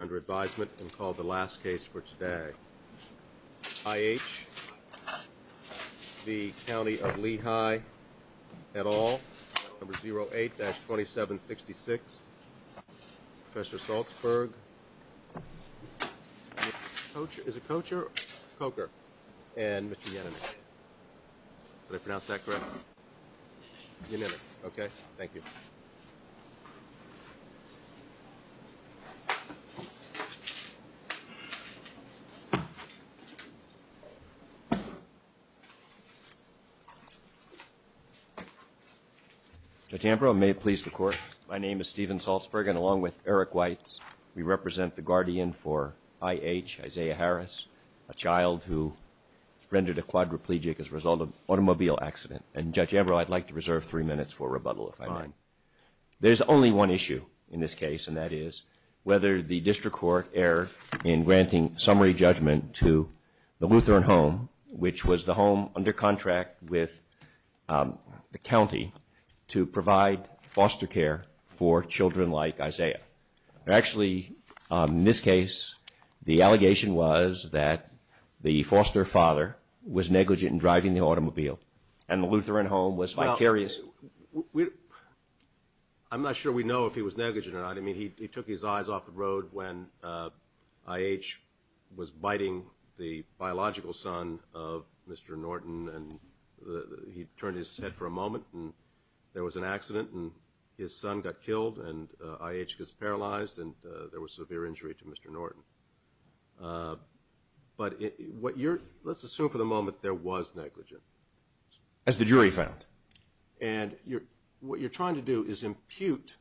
under advisement and called the last case for today. I.H. v. Countyof Lehigh, et al., number 08-2766, Professor Salzberg, is it Kocher? Kocher, and Mr. Yenemy. Did I pronounce that correctly? Yenemy. Okay, thank you. Judge Ambrose, may it please the Court. My name is Stephen Salzberg, and along with Eric Weitz, we represent the guardian for I.H., Isaiah Harris, a child who rendered a quadriplegic as a result of an automobile accident. And, Judge Ambrose, I'd like to reserve three minutes for rebuttal, if I may. Fine. There's only one issue in this case, and that is whether the district court erred in granting summary judgment to the Lutheran Home, which was the home under contract with the county, to provide foster care for children like Isaiah. Actually, in this case, the allegation was that the foster father was negligent in driving the automobile, and the Lutheran Home was vicarious. Well, I'm not sure we know if he was negligent or not. I mean, he took his eyes off the road when I.H. was biting the biological son of Mr. Norton, and he turned his head for a moment, and there was an accident, and his son got killed, and I.H. was paralyzed, and there was severe injury to Mr. Norton. But, let's assume for the moment there was negligent. As the jury found. And, what you're trying to do is impute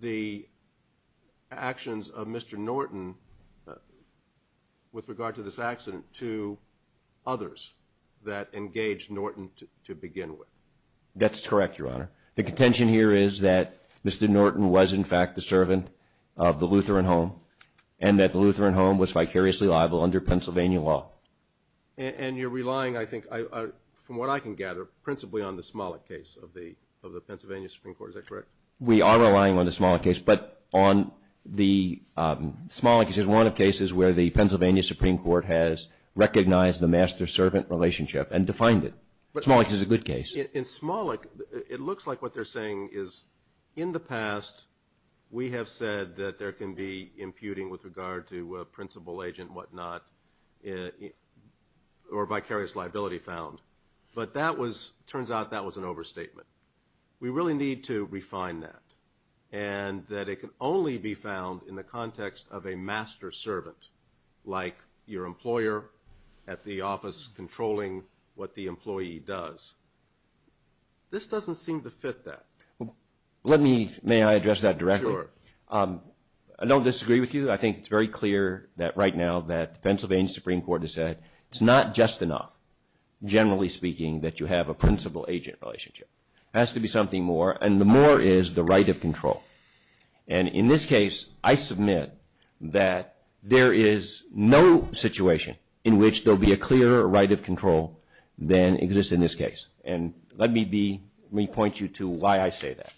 the actions of Mr. Norton, with regard to this accident, to others that engaged Norton to begin with. That's correct, Your Honor. The contention here is that Mr. Norton was, in fact, the servant of the Lutheran Home, and that the Lutheran Home was vicariously liable under Pennsylvania law. And, you're relying, I think, from what I can gather, principally on the Smollett case of the Pennsylvania Supreme Court. Is that correct? We are relying on the Smollett case, but on the Smollett case is one of cases where the Pennsylvania Supreme Court has recognized the master-servant relationship, and defined it. But, Smollett is a good case. In Smollett, it looks like what they're saying is, in the past, we have said that there can be imputing with regard to a principal agent, whatnot, or vicarious liability found. But, that was, turns out, that was an overstatement. We really need to refine that. And, that it can only be found in the context of a master-servant, like your employer at the office controlling what the employee does. This doesn't seem to fit that. Let me, may I address that directly? Sure. I don't disagree with you. I think it's very clear that, right now, that the Pennsylvania Supreme Court has said it's not just enough, generally speaking, that you have a principal agent relationship. It has to be something more. And, the more is the right of control. And, in this case, I submit that there is no situation in which there'll be a clearer right of control than exists in this case. And, let me be, let me point you to why I say that.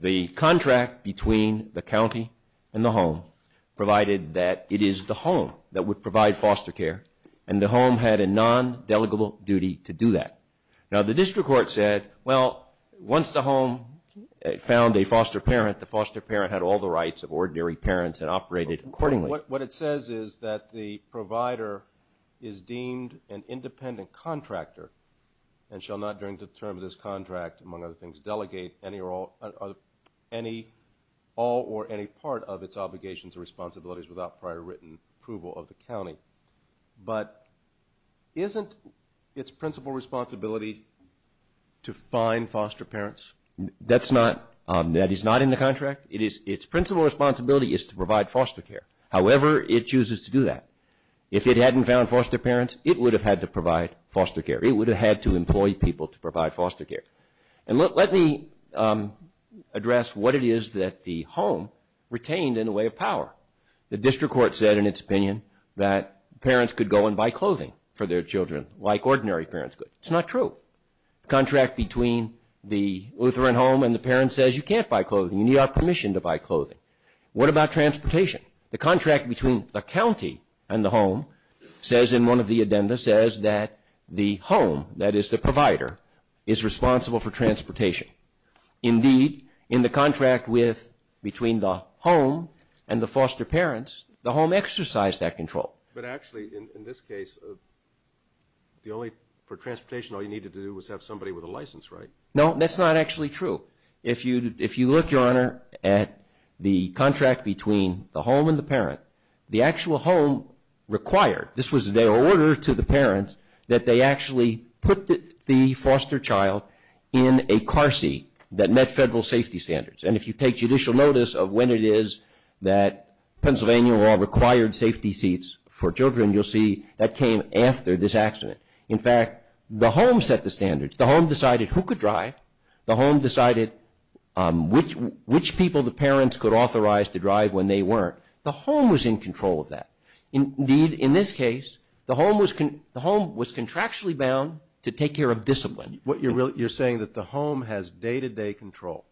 The contract between the county and the home provided that it is the home that would provide foster care. And, the home had a non-delegable duty to do that. Now, the district court said, well, once the home found a foster parent, the foster parent had all the rights of ordinary parents and operated accordingly. What it says is that the provider is deemed an independent contractor and shall not, during the term of this contract, among other things, delegate any or all, any, all or any part of its obligations or responsibilities without prior written approval of the county. But, isn't its principal responsibility to find foster parents? That's not, that is not in the contract. It is, its principal responsibility is to provide foster care. However, it chooses to do that. If it hadn't found foster parents, it would have had to provide foster care. It would have had to employ people to provide foster care. And, let me address what it is that the home retained in the way of power. The district court said, in its opinion, that parents could go and buy clothing for their children like ordinary parents could. It's not true. The contract between the Lutheran home and the parent says you can't buy clothing. You need our permission to buy clothing. What about transportation? The contract between the county and the home says, in one of the addenda, says that the home, that is the provider, is responsible for transportation. Indeed, in the contract with, between the home and the foster parents, the home exercised that control. But, actually, in this case, the only, for transportation, all you needed to do was have somebody with a license, right? No, that's not actually true. If you, if you look, your honor, at the contract between the home and the parent, the actual home required, this was their order to the parents, that they actually put the foster child in a car seat that met federal safety standards. And, if you take judicial notice of when it is that Pennsylvania law required safety seats for children, you'll see that came after this accident. In fact, the home set the standards. The home decided who could drive. The home decided which people the parents could authorize to drive when they weren't. The home was in control of that. Indeed, in this case, the home was, the home was contractually bound to take care of discipline. What you're really, you're saying that the home has day-to-day control.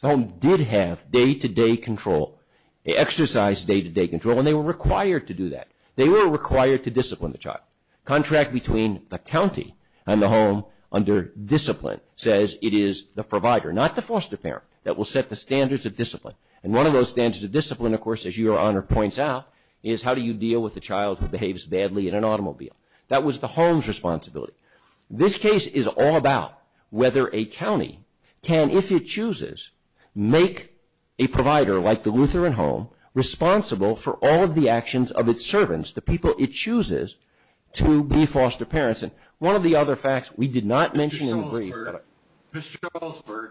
The home did have day-to-day control, exercised day-to-day control, and they were required to do that. They were required to discipline the child. Contract between the county and the home under provider, not the foster parent, that will set the standards of discipline. And, one of those standards of discipline, of course, as your honor points out, is how do you deal with a child who behaves badly in an automobile. That was the home's responsibility. This case is all about whether a county can, if it chooses, make a provider like the Lutheran home responsible for all of the actions of its servants, the people it chooses to be foster parents. And, one of the other facts we did not mention in the brief. Mr. Goldsberg,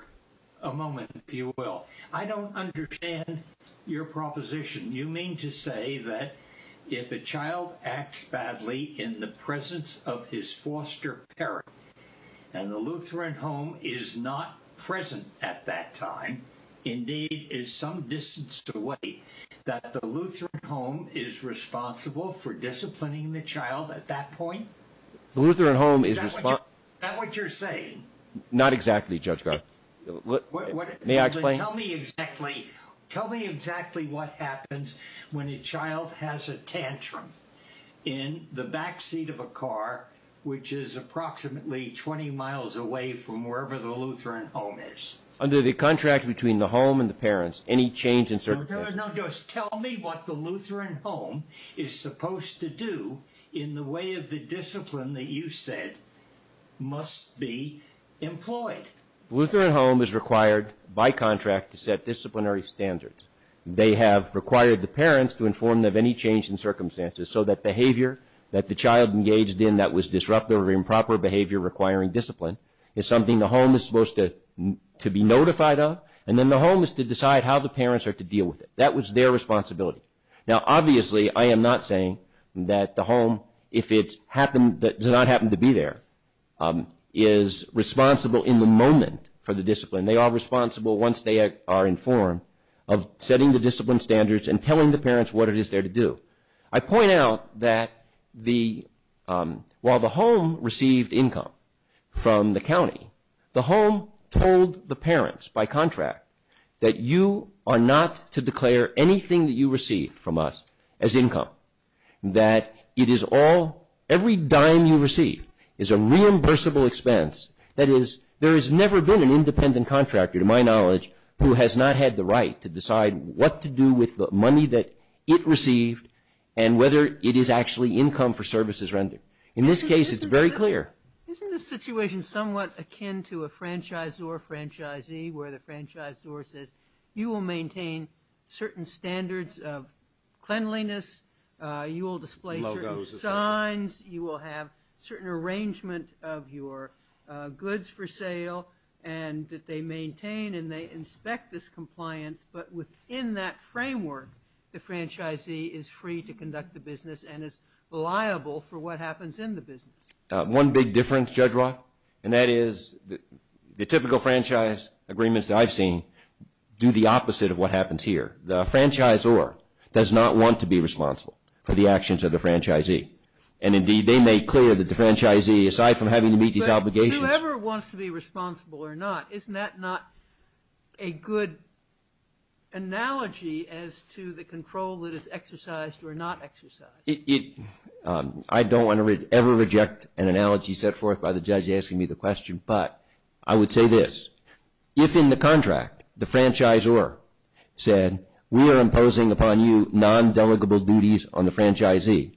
a moment, if you will. I don't understand your proposition. You mean to say that if a child acts badly in the presence of his foster parent, and the Lutheran home is not present at that time, indeed is some distance away, that the Lutheran home is responsible for disciplining the child at that point? The Lutheran home is responsible. Is that what you're saying? Not exactly, Judge Garland. May I explain? Tell me exactly what happens when a child has a tantrum in the back seat of a car, which is approximately 20 miles away from wherever the Lutheran home is. Under the contract between the home and the parents, any change in circumstance? Now, just tell me what the Lutheran home is supposed to do in the way of the discipline that you said must be employed. The Lutheran home is required by contract to set disciplinary standards. They have required the parents to inform them of any change in circumstances, so that behavior that the child engaged in that was disruptive or improper behavior requiring discipline is something the home is supposed to be notified of, and then the home is to decide how the parents are to deal with it. That was their responsibility. Now, obviously, I am not saying that the home, if it does not happen to be there, is responsible in the moment for the discipline. They are responsible once they are informed of setting the discipline standards and telling the parents what it is there to do. I point out that while the home received income from the county, the home told the parents by contract that you are not to declare anything that you received from us as income, that every dime you receive is a reimbursable expense. That is, there has never been an independent contractor, to my knowledge, who has not had the right to decide what to do with the money that it received and whether it is actually income for services rendered. In this case, it is very clear. Isn't this situation somewhat akin to a franchisor, franchisee, where the franchisor says you will maintain certain standards of cleanliness, you will display certain signs, you will have certain arrangement of your goods for sale, and that they maintain and they inspect this compliance, but within that framework, the franchisee is free to conduct the business and is liable for what happens in the business? One big difference, Judge Roth, and that is the typical franchise agreements that I have seen do the opposite of what happens here. The franchisor does not want to be responsible for the actions of the franchisee. And indeed, they make clear that the franchisee, aside from having to meet these obligations... But whoever wants to be responsible or not, isn't that not a good analogy as to the control that is exercised or not exercised? I don't want to ever reject an analogy set forth by the judge asking me the question, but I would say this. If in the contract, the franchisor said, we are imposing upon you non-delegable duties on the franchisee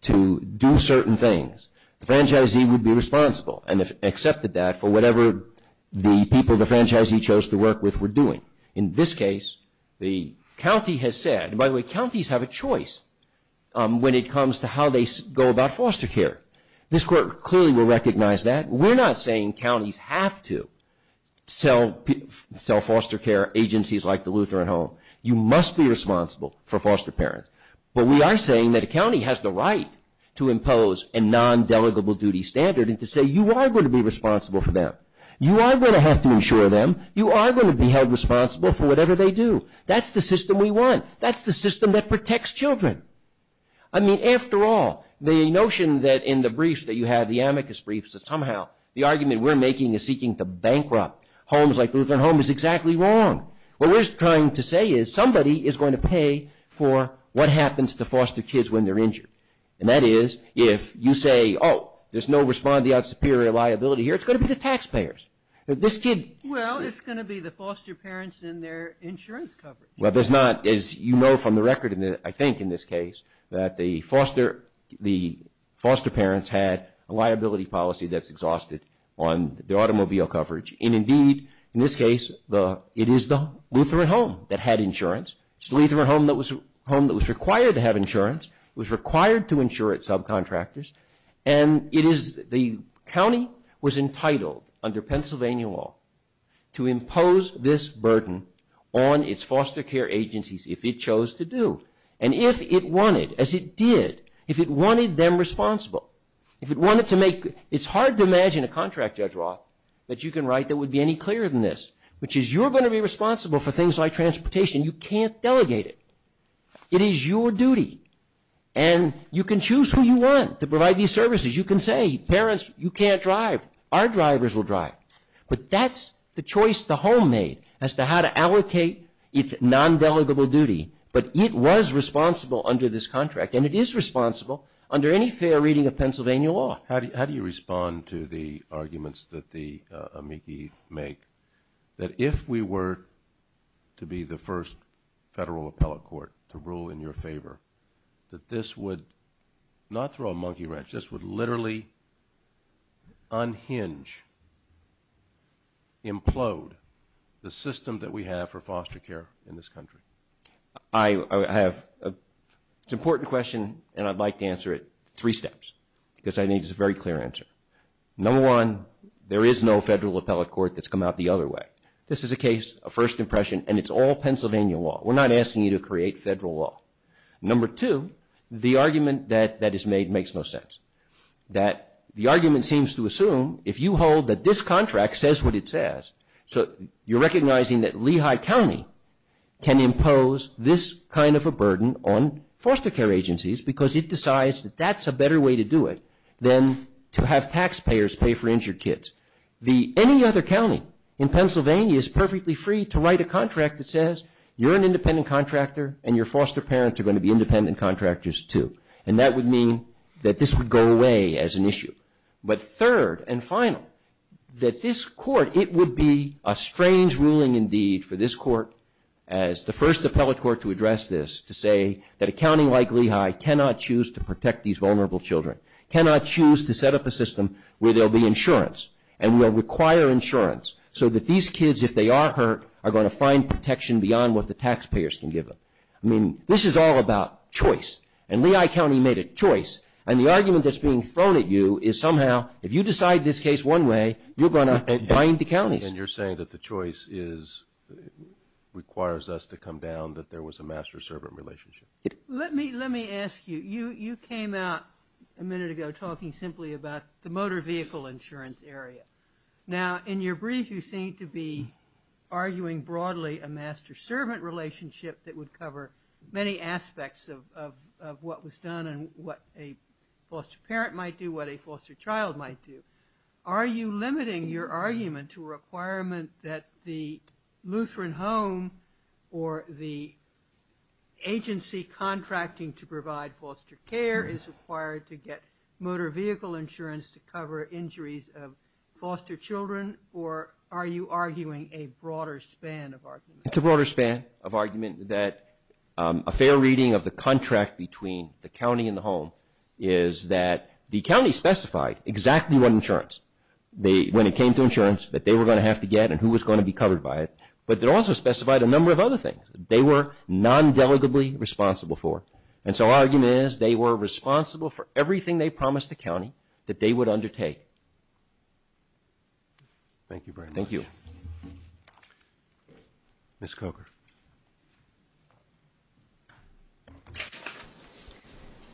to do certain things, the franchisee would be responsible and accepted that for whatever the people the franchisee chose to work with were doing. In this case, the county has said, and by the way, counties have a choice when it comes to how they go about foster care. This Court clearly will recognize that. We're not saying counties have to sell foster care agencies like the Lutheran Home. You must be responsible for foster parents. But we are saying that a county has the right to impose a non-delegable duty standard and to say, you are going to be responsible for them. You are going to have to insure them. You are going to be held responsible for whatever they do. That's the system we want. That's the system that protects children. I mean, after all, the notion that in the briefs that you have, the amicus briefs, that somehow the argument we're making is seeking to bankrupt homes like Lutheran Home is exactly wrong. What we're trying to say is somebody is going to pay for what happens to foster kids when they're injured. And that is, if you say, oh, there's no respondeat superior liability here, it's going to be the taxpayers. This kid- Well, it's going to be the foster parents and their insurance coverage. Well, there's not, as you know from the record, I think in this case, that the foster parents had a liability policy that's exhausted on the automobile coverage. And indeed, in this case, it is the Lutheran Home that had insurance. It's the Lutheran Home that was required to have insurance. It was required to insure its subcontractors. And the county was entitled under Pennsylvania law to impose this burden on its foster care agencies if it chose to do. And if it wanted, as it did, if it wanted them responsible, if it wanted to make- It's hard to imagine a contract, Judge Roth, that you can write that would be any clearer than this, which is you're going to be responsible for things like transportation. You can't delegate it. It is your duty. And you can choose who you want to provide these services. You can say, parents, you can't drive. Our drivers will drive. But that's the choice the home made as to how to allocate its non-delegable duty. But it was responsible under this contract. And it is responsible under any fair reading of Pennsylvania law. How do you respond to the arguments that the amici make that if we were to be the first federal appellate court to rule in your favor, that this would not throw a monkey wrench, this would literally unhinge, implode the system that we have for foster care in this country? I have an important question, and I'd like to answer it three steps, because I think it's a very clear answer. Number one, there is no federal appellate court that's come out the other way. This is a case, a first impression, and it's all Pennsylvania law. We're not asking you to create federal law. Number two, the argument that is made makes no sense. The argument seems to assume if you hold that this contract says what it says, so you're recognizing that Lehigh County can impose this kind of a burden on foster care agencies because it decides that that's a better way to do it than to have taxpayers pay for injured kids. Any other county in Pennsylvania is perfectly free to write a contract that says you're an independent contractor and your foster parents are going to be independent contractors too. And that would mean that this would go away as an issue. But third and final, that this court, it would be a strange ruling indeed for this court, as the first appellate court to address this, to say that a county like Lehigh cannot choose to protect these vulnerable children, cannot choose to set up a system where there will be insurance, and will require insurance, so that these kids, if they are hurt, are going to find protection beyond what the taxpayers can give them. I mean, this is all about choice. And Lehigh County made a choice. And the argument that's being thrown at you is somehow if you decide this case one way, you're going to bind the counties. And you're saying that the choice requires us to come down that there was a master-servant relationship. Let me ask you. You came out a minute ago talking simply about the motor vehicle insurance area. Now, in your brief, you seem to be arguing broadly a master-servant relationship that would cover many aspects of what was done and what a foster parent might do, what a foster child might do. Are you limiting your argument to a requirement that the Lutheran Home or the agency contracting to provide foster care is required to get motor vehicle insurance to cover injuries of foster children? Or are you arguing a broader span of argument? It's a broader span of argument that a fair reading of the contract between the county and the home is that the county specified exactly what insurance, when it came to insurance, that they were going to have to get and who was going to be covered by it. But they also specified a number of other things that they were non-delicately responsible for. And so argument is they were responsible for everything they promised the county that they would undertake. Thank you very much. Thank you. Ms. Coker.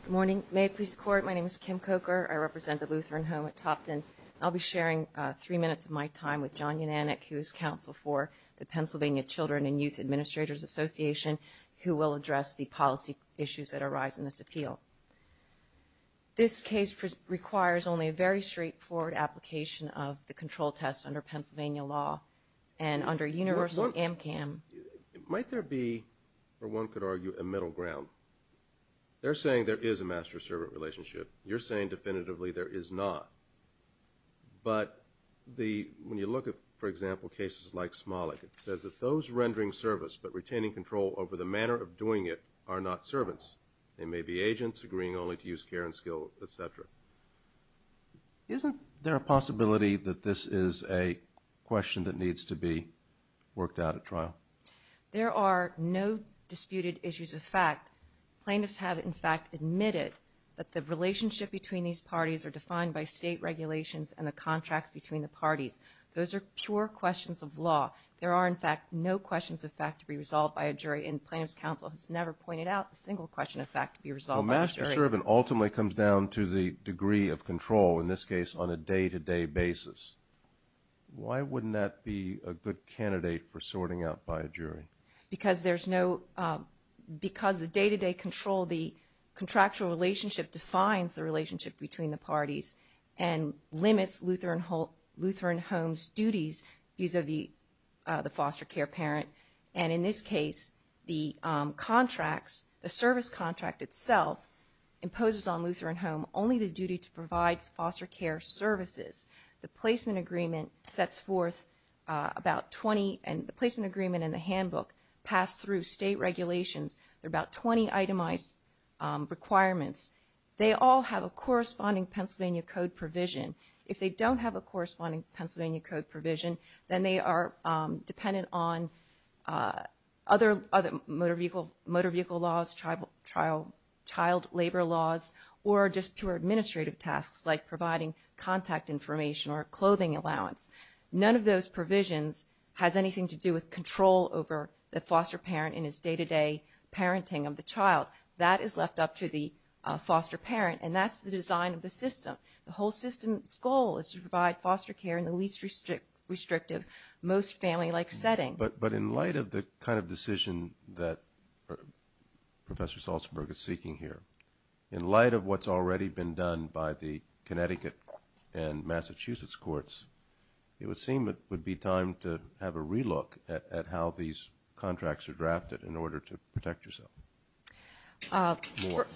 Good morning. May it please the Court, my name is Kim Coker. I represent the Lutheran Home at Topton. I'll be sharing three minutes of my time with John Unanik, who is counsel for the Pennsylvania Children and Youth Administrators Association, who will address the policy issues that arise in this appeal. This case requires only a very straightforward application of the control test under Pennsylvania law and under universal AMCAM. Might there be, or one could argue, a middle ground? They're saying there is a master-servant relationship. You're saying definitively there is not. But when you look at, for example, cases like Smollett, it says that those rendering service but retaining control over the manner of doing it are not servants. They may be agents agreeing only to use care and skill, et cetera. Isn't there a possibility that this is a question that needs to be worked out at trial? There are no disputed issues of fact. Plaintiffs have, in fact, admitted that the relationship between these parties are defined by state regulations and the contracts between the parties. Those are pure questions of law. There are, in fact, no questions of fact to be resolved by a jury, and plaintiff's counsel has never pointed out a single question of fact to be resolved by a jury. A master-servant ultimately comes down to the degree of control, in this case, on a day-to-day basis. Why wouldn't that be a good candidate for sorting out by a jury? Because there's no, because the day-to-day control, the contractual relationship defines the relationship between the parties and limits Lutheran Homes' duties vis-a-vis the foster care parent. And in this case, the contracts, the service contract itself, imposes on Lutheran Home only the duty to provide foster care services. The placement agreement sets forth about 20, and the placement agreement and the handbook pass through state regulations. There are about 20 itemized requirements. They all have a corresponding Pennsylvania Code provision. If they don't have a corresponding Pennsylvania Code provision, then they are dependent on other motor vehicle laws, child labor laws, or just pure administrative tasks, like providing contact information or clothing allowance. None of those provisions has anything to do with control over the foster parent in his day-to-day parenting of the child. That is left up to the foster parent, and that's the design of the system. The whole system's goal is to provide foster care in the least restrictive, most family-like setting. But in light of the kind of decision that Professor Salzberg is seeking here, in light of what's already been done by the Connecticut and Massachusetts courts, it would seem it would be time to have a relook at how these contracts are drafted in order to protect yourself.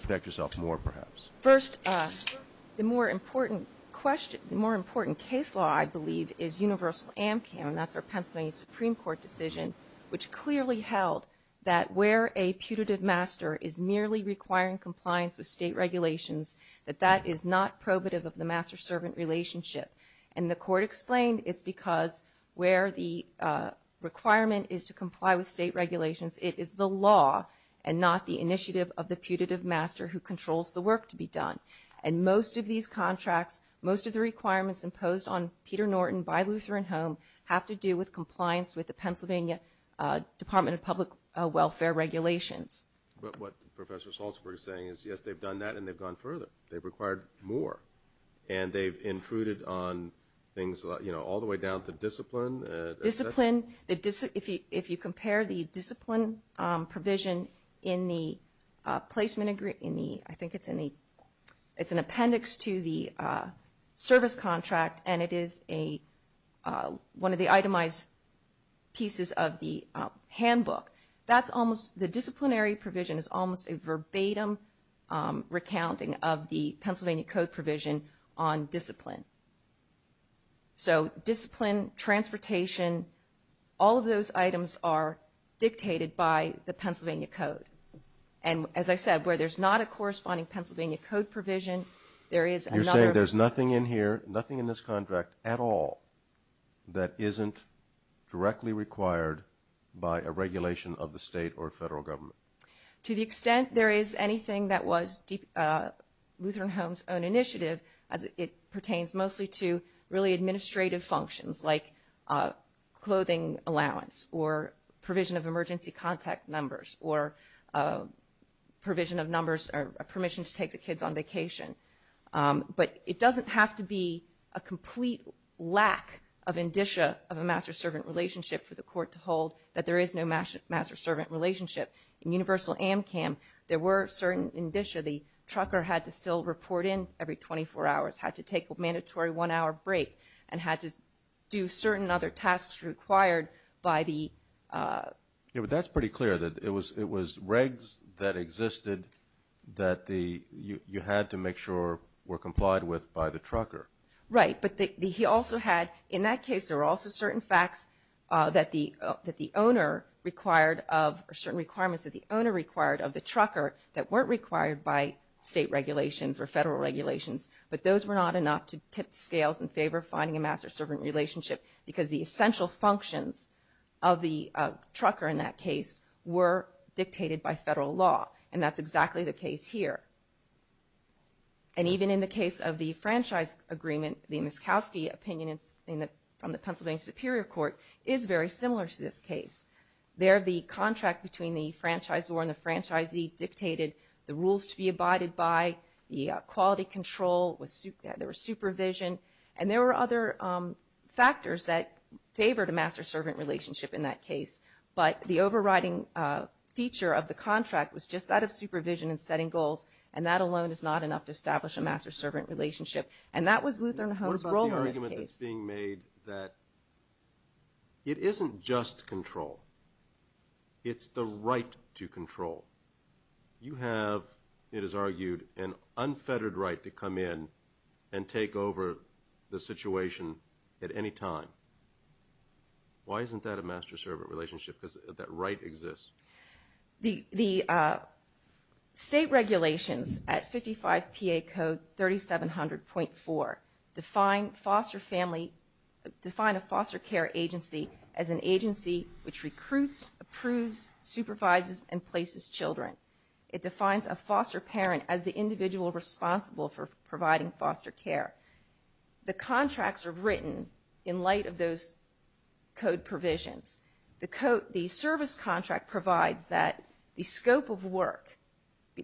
Protect yourself more, perhaps. First, the more important case law, I believe, is Universal AMCAM, and that's our Pennsylvania Supreme Court decision, which clearly held that where a putative master is merely requiring compliance with state regulations, that that is not probative of the master-servant relationship. And the court explained it's because where the requirement is to comply with state regulations, it is the law and not the initiative of the putative master who controls the work to be done. And most of these contracts, most of the requirements imposed on Peter Norton by Lutheran Home have to do with compliance with the Pennsylvania Department of Public Welfare regulations. But what Professor Salzberg is saying is, yes, they've done that and they've gone further. They've required more, and they've intruded on things, you know, all the way down to discipline. Discipline. If you compare the discipline provision in the placement agreement, I think it's an appendix to the service contract and it is one of the itemized pieces of the handbook, the disciplinary provision is almost a verbatim recounting of the Pennsylvania Code provision on discipline. So discipline, transportation, all of those items are dictated by the Pennsylvania Code. And as I said, where there's not a corresponding Pennsylvania Code provision, there is another... You're saying there's nothing in here, nothing in this contract at all that isn't directly required by a regulation of the state or federal government. To the extent there is anything that was Lutheran Home's own initiative as it pertains mostly to really administrative functions like clothing allowance or provision of emergency contact numbers or provision of numbers or permission to take the kids on vacation. But it doesn't have to be a complete lack of indicia of a master-servant relationship for the court to hold that there is no master-servant relationship. In universal AMCAM, there were certain indicia where the trucker had to still report in every 24 hours, had to take a mandatory one-hour break and had to do certain other tasks required by the... Yeah, but that's pretty clear that it was regs that existed that you had to make sure were complied with by the trucker. Right, but he also had... In that case, there were also certain facts that the owner required of... or certain requirements that the owner required of the trucker that weren't required by state regulations or federal regulations. But those were not enough to tip the scales in favor of finding a master-servant relationship because the essential functions of the trucker in that case were dictated by federal law. And that's exactly the case here. And even in the case of the franchise agreement, the Muskowski opinion from the Pennsylvania Superior Court is very similar to this case. There, the contract between the franchisor and the franchisee was dictated, the rules to be abided by, the quality control, there was supervision, and there were other factors that favored a master-servant relationship in that case. But the overriding feature of the contract was just that of supervision and setting goals, and that alone is not enough to establish a master-servant relationship. And that was Lutheran Homes' role in this case. What about the argument that's being made that it isn't just control, it's the right to control? You have, it is argued, an unfettered right to come in and take over the situation at any time. Why isn't that a master-servant relationship? Because that right exists. The state regulations at 55 PA Code 3700.4 define a foster care agency as an agency which recruits, approves, supervises, and places children. It defines a foster parent as the individual responsible for providing foster care. The contracts are written in light of those code provisions. The service contract provides that the scope of work,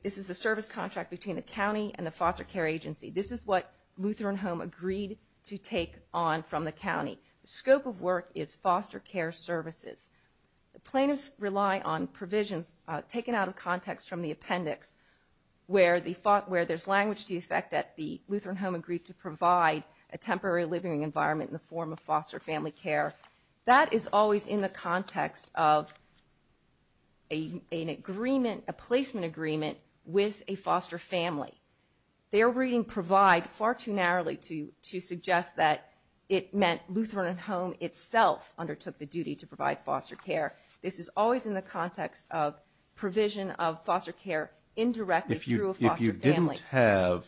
this is the service contract between the county and the foster care agency. This is what Lutheran Home agreed to take on from the county. The scope of work is foster care services. The plaintiffs rely on provisions taken out of context from the appendix where there's language to the effect that the Lutheran Home agreed to provide a temporary living environment in the form of foster family care. That is always in the context of an agreement, a placement agreement with a foster family. Their reading provide far too narrowly to suggest that it meant Lutheran Home itself undertook the duty to provide foster care. This is always in the context of provision of foster care indirectly through a foster family. If you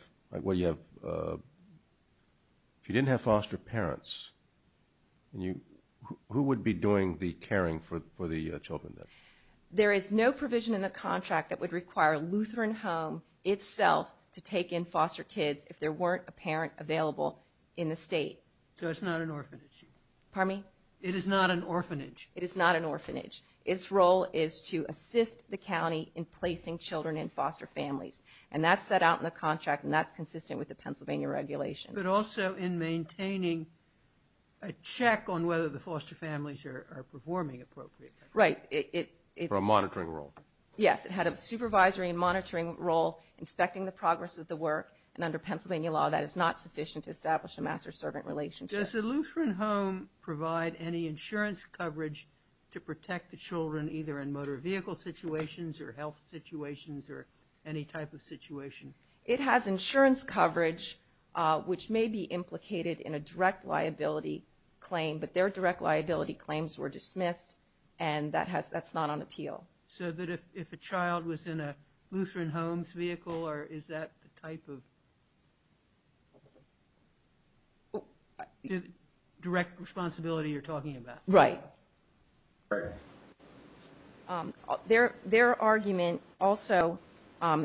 didn't have foster parents, who would be doing the caring for the children? There is no provision in the contract that would require Lutheran Home itself to take in foster kids if there weren't a parent available in the state. So it's not an orphanage? Pardon me? It is not an orphanage? It is not an orphanage. Its role is to assist the county in placing children in foster families. And that's set out in the contract and that's consistent with the Pennsylvania regulation. But also in maintaining a check on whether the foster families are performing appropriately. Right. For a monitoring role. Yes, it had a supervisory and monitoring role inspecting the progress of the work and under Pennsylvania law that is not sufficient to establish a master-servant relationship. Does the Lutheran Home provide any insurance coverage to protect the children either in motor vehicle situations or health situations or any type of situation? It has insurance coverage which may be implicated in a direct liability claim but their direct liability claims were dismissed and that's not on appeal. So if a child was in a Lutheran Homes vehicle is that the type of direct responsibility you're talking about? Right. Their argument also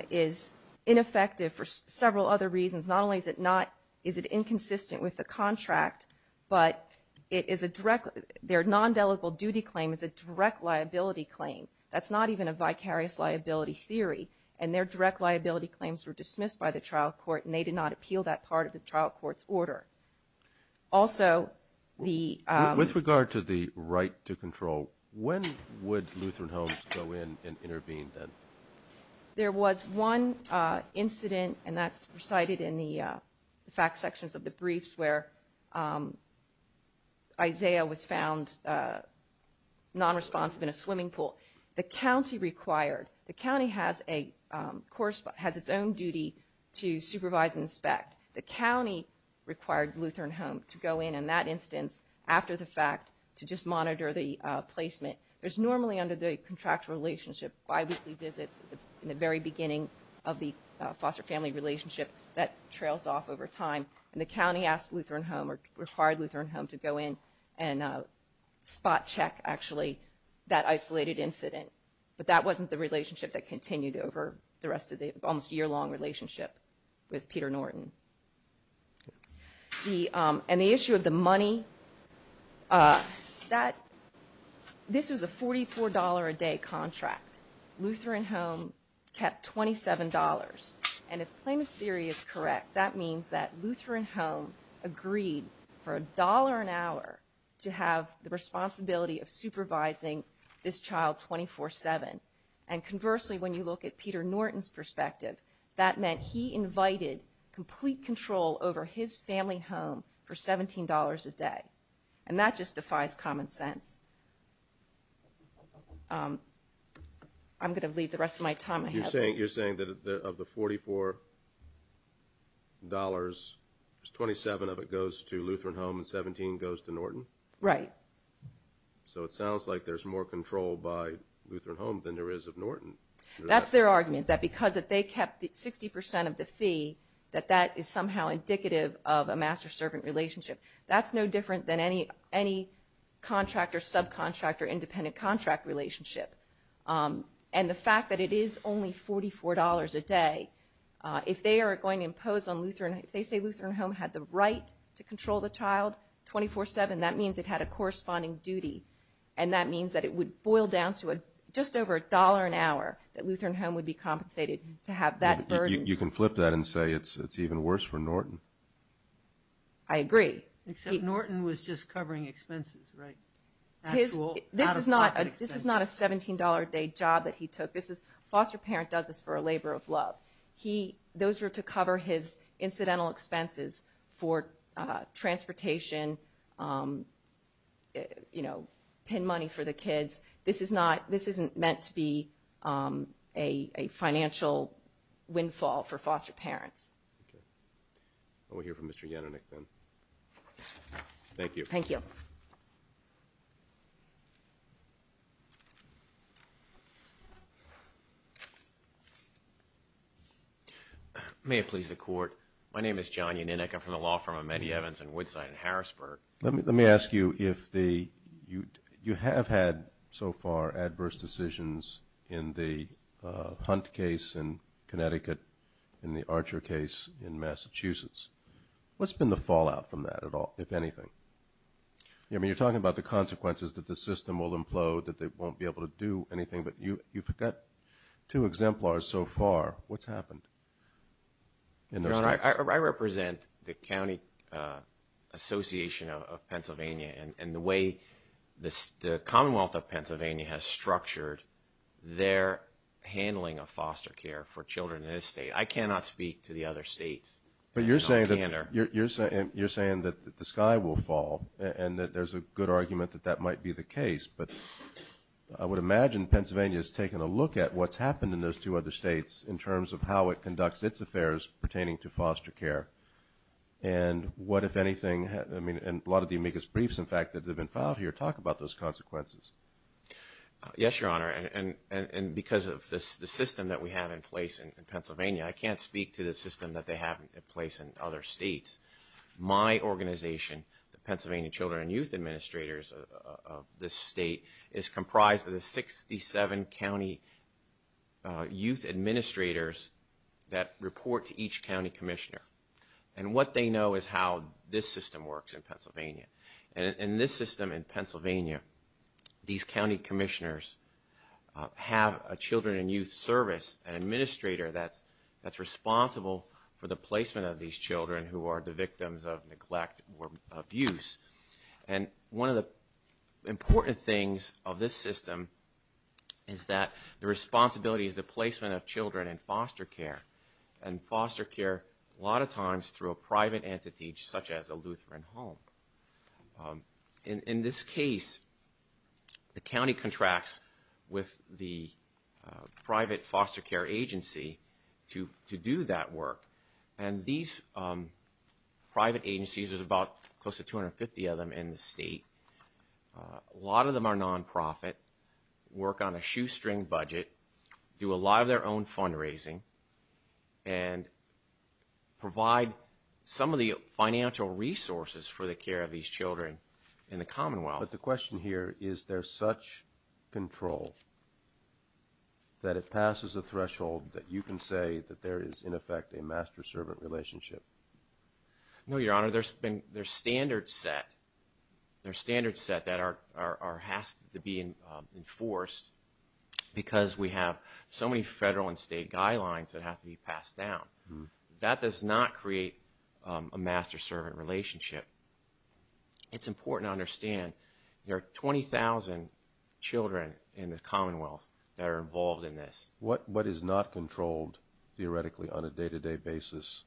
is ineffective for several other reasons. Not only is it not is it inconsistent with the contract but it is a direct their non-delictable duty claim is a direct liability claim. That's not even a vicarious liability theory and their direct liability claims were dismissed by the trial court and they did not appeal that part of the trial court's order. the With regard to the right to control when would Lutheran Homes go in and intervene then? There was one incident and that's cited in the fact sections of the briefs where Isaiah was found non-responsive in a swimming pool. The county required the county has a has its own duty to supervise and inspect. The county required Lutheran Homes to go in in that instance after the fact to just monitor the placement. There's normally under the contractual relationship bi-weekly visits in the very beginning of the foster family relationship that trails off over time and the county asked Lutheran Homes or required Lutheran Homes to go in and spot check actually that isolated incident but that wasn't the relationship that continued over the rest of the almost year-long relationship with Peter Norton. The and the issue of the money that this was a $44 a day contract. Lutheran Homes kept $27 and if plaintiff's theory is correct that means that Lutheran Homes agreed for a dollar an hour to have the responsibility of supervising this child 24-7 and conversely when you look at Peter Norton's perspective that meant he invited complete control over his family home for $17 a day and that just defies common sense. I'm going to leave the rest of my time ahead. You're saying that of the $44 there's $27 of it goes to Lutheran Homes and $17 goes to Norton? Right. So it sounds like there's more control by Lutheran Homes than there is of Norton? That's their argument that because they kept 60% of the fee that that is somehow indicative of a master-servant relationship. That's no different than any contractor subcontractor independent contract relationship and the fact that it is only $44 a day if they are going to impose on Lutheran if they say Lutheran Homes had the right to control the child 24-7 that means it had a corresponding duty and that means that it would boil down to just over a dollar an hour that Lutheran Homes would be compensated to have that burden. You can flip that and say it's even worse for Norton. I agree. Except Norton was just covering expenses right? This is not a $17 a day job that he took. This is foster parent does this for a labor of love. Those were to cover his incidental expenses for transportation you know pen money for the kids. This isn't meant to be a financial windfall for foster parents. Okay. We'll hear from Mr. Yannanick then. Thank you. Thank you. May it please the court my name is John Yannanick I'm from the law firm of Medievans and Woodside and Harrisburg. Let me ask you if the you have had so far adverse decisions in the Hunt case in Connecticut in the Archer case in Massachusetts what's been the fallout from that at all if anything? I mean you're talking about the consequences that the system will implode that they won't be able to do anything but you you've got two exemplars so far what's happened? I represent the county association of Pennsylvania and the way the Commonwealth of Pennsylvania has structured their handling of foster care for children in this state. I cannot speak to the system of the to foster care and what if anything I mean and a lot of the amicus briefs in fact these administrators that report to each county commissioner and what they know is how this system works in Pennsylvania and in this system in Pennsylvania these county commissioners have a children and youth of children in foster care and foster care a lot of times through a private entity such as a Lutheran home. In this case the county contracts with the private foster care agency to do that work and these private agencies there's about close to 250 of them in the state a lot of them are non-profit work on a shoestring budget do a lot of their own fundraising and provide some of the financial resources for the care of these children in the commonwealth. But the question here is there such control that it passes a threshold that you can say that there is in effect a master servant relationship? No your honor there's standards set there's standards set that are have to be enforced because we have so many federal and state guidelines that have to be passed down that does not create a master servant relationship it's important to understand there are 20,000 children in the commonwealth that are involved in this. What is not controlled theoretically on a day-to-day basis?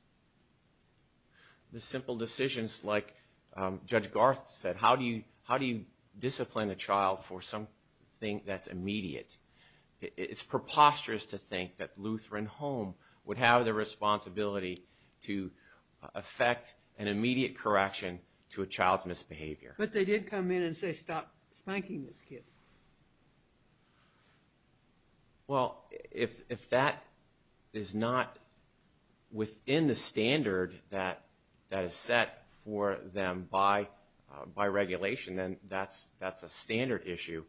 The simple decisions like Judge Garth said how do you discipline a child for something that's immediate. It's preposterous to think that Lutheran Home would have the responsibility to effect an immediate correction to a child's misbehavior. But they did come in and say stop spanking this kid. Well if that is not within the standard that is set for them by regulation then that's a standard issue.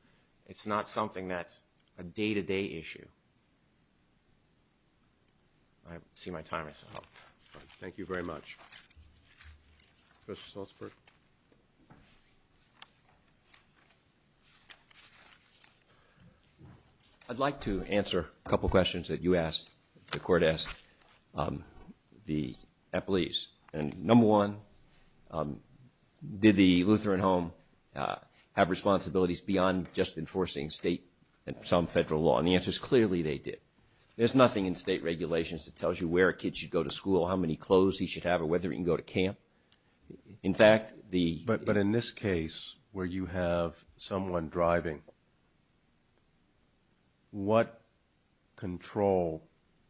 It's not something that's a day-to-day issue. Thank you. I see my time is up. Thank you very much. Professor Salzberg. I'd like to answer a couple questions that you asked, the court asked, the employees. And number one, did the Lutheran Home have responsibilities beyond just enforcing state and some federal law? And the answer is clearly they did. There's nothing in state regulations that tells you where a kid should go to school, how many clothes he should have or whether he can go to camp. But in this case where you have someone driving, what control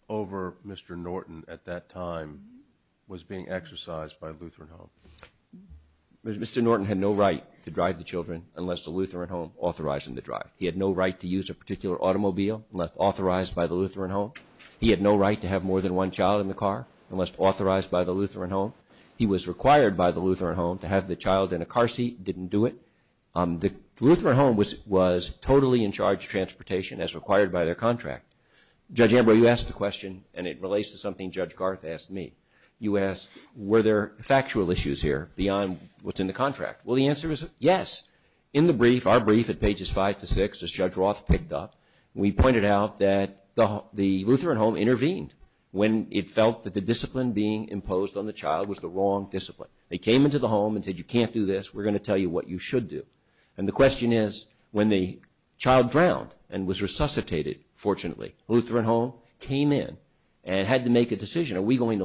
over the driver? He had no right to use a particular automobile unless authorized by the Lutheran Home. He had no right to have more than one child in the car unless authorized by the Lutheran Home. He was required by the Lutheran Home to have the child in a car seat, didn't do it. The Lutheran Home was totally in charge of transportation as required by their contract. Judge Ambrose, you asked the question and it relates to something Judge Garth asked me. You asked were there factual issues here beyond what's in the contract? The answer is yes. In our brief at pages 5-6 we pointed out that the Lutheran Home intervened when it felt the discipline was the wrong discipline. They came into the home and said you can't do this we're going to tell you what you should do. And the question is when the child drowned and was resuscitated fortunately Lutheran Home intervened when it felt the discipline is when the child drowned and was resuscitated fortunately Lutheran Home intervened when it felt the discipline was the wrong discipline. Now if there's anything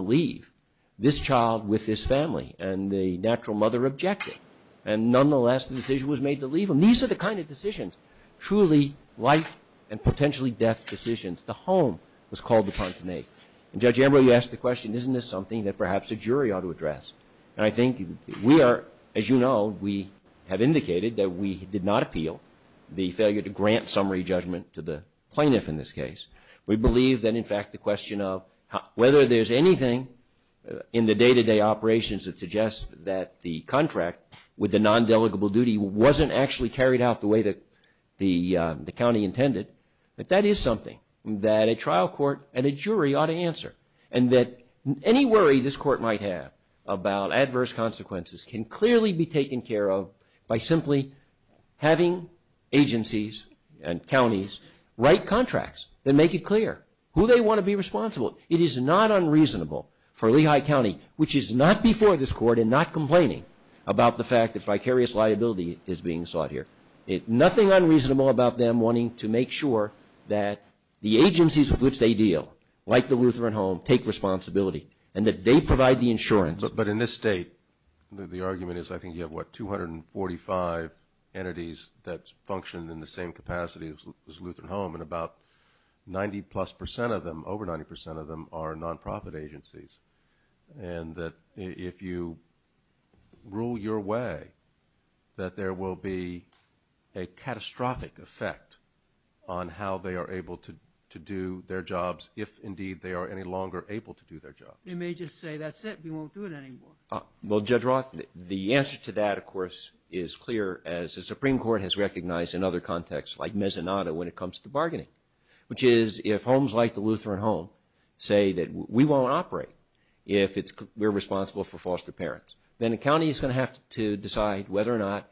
in the day-to-day operations that suggests that the contract with the non-delegable duty wasn't actually carried out the way the county intended that is something that a trial court and a jury ought to answer. And that any worry this court might have about adverse consequences can clearly be taken care of by simply having agencies and counties write contracts and make it clear who they want to be responsible. It is not unreasonable for Lehigh County which is not before this court and not complaining about the fact that vicarious liability is being sought here. Nothing unreasonable about them wanting to make sure that the agencies with which they deal like the Lutheran Home take responsibility and that they provide the insurance. But in this state the argument is I think you have what 245 entities that function in the same capacity as Lutheran Home and about 90 plus percent of them over 90 percent of them are non-profit agencies and that if you rule your house out of the way that there will be a catastrophic effect on how they are able to do their jobs if indeed they are any longer able to do their jobs. They may just say that's it we won't do it anymore. Judge Roth the answer to that of course is clear as the Supreme Court has recognized in other contexts like Mesonado when it comes to bargaining which is if homes like the Lutheran Home say that we won't operate if we are responsible for foster parents then the county is going to have to decide whether or not to Lutheran Home. And that's what's happened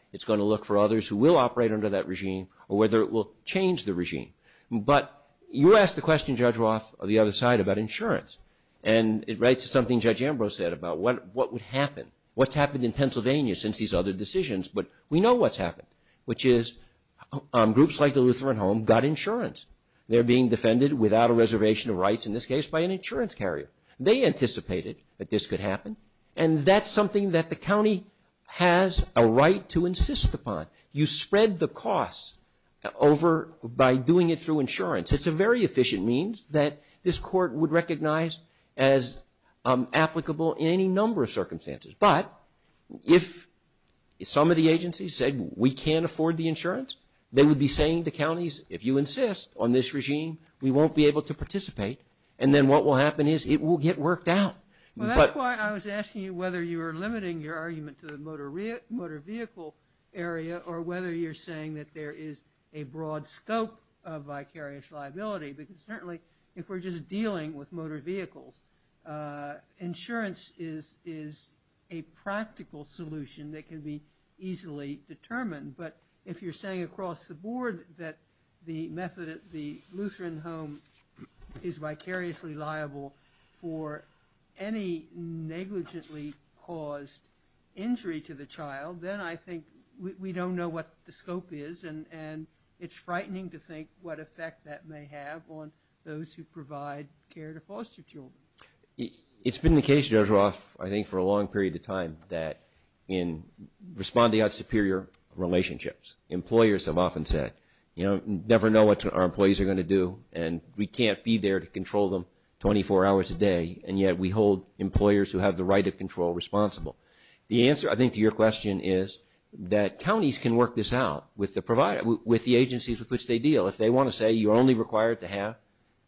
which is groups like the Lutheran Home got insurance. They are being defended without a reservation of rights in this case by an insurance carrier. They anticipated that this could happen and that's something that the county has a right to insist upon. You spread the cost over by doing it through insurance. It's a very efficient means that this court would recognize as applicable in any number of circumstances but if some of the agencies said we can't afford the insurance they would be saying to counties if you insist on this regime we won't be able to participate and then what will happen is it will get worked out. But it's not something that can be easily determined but if you're saying across the board that the Lutheran home is vicariously liable for any negligently caused injury to the child then I think we don't know what the scope is and it's frightening to think what effect that may have on those who provide care to foster children. It's been the case Judge Roth I think for a long period of time that in responding out superior relationships employers have often said never know what our employees are going to do and we can't be there to control them 24 hours a day and yet we hold employers who have the right of control responsible. The answer I think to your question is that counties can work this out with the agencies with which they deal. If they want to say you are only required to have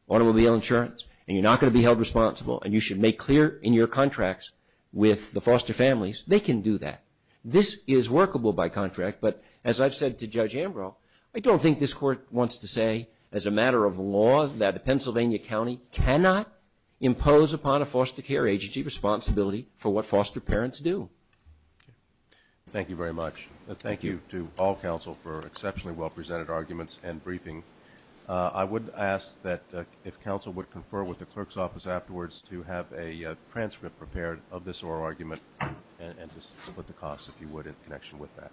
automobile insurance and you are not going to be held responsible and you should make clear in your contracts with the foster families they can do that. This is workable by contract but as I've said to Judge Ambrough I don't think this is the right to have a transcript prepared of this oral argument and to split the cost if you would in connection with that.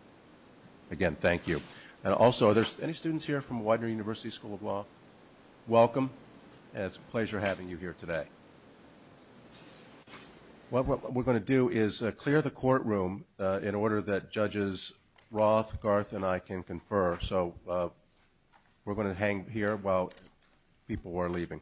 Again thank you. Any students from Roth, Garth and I can confer. We're going to hang here while people are leaving. Thank you.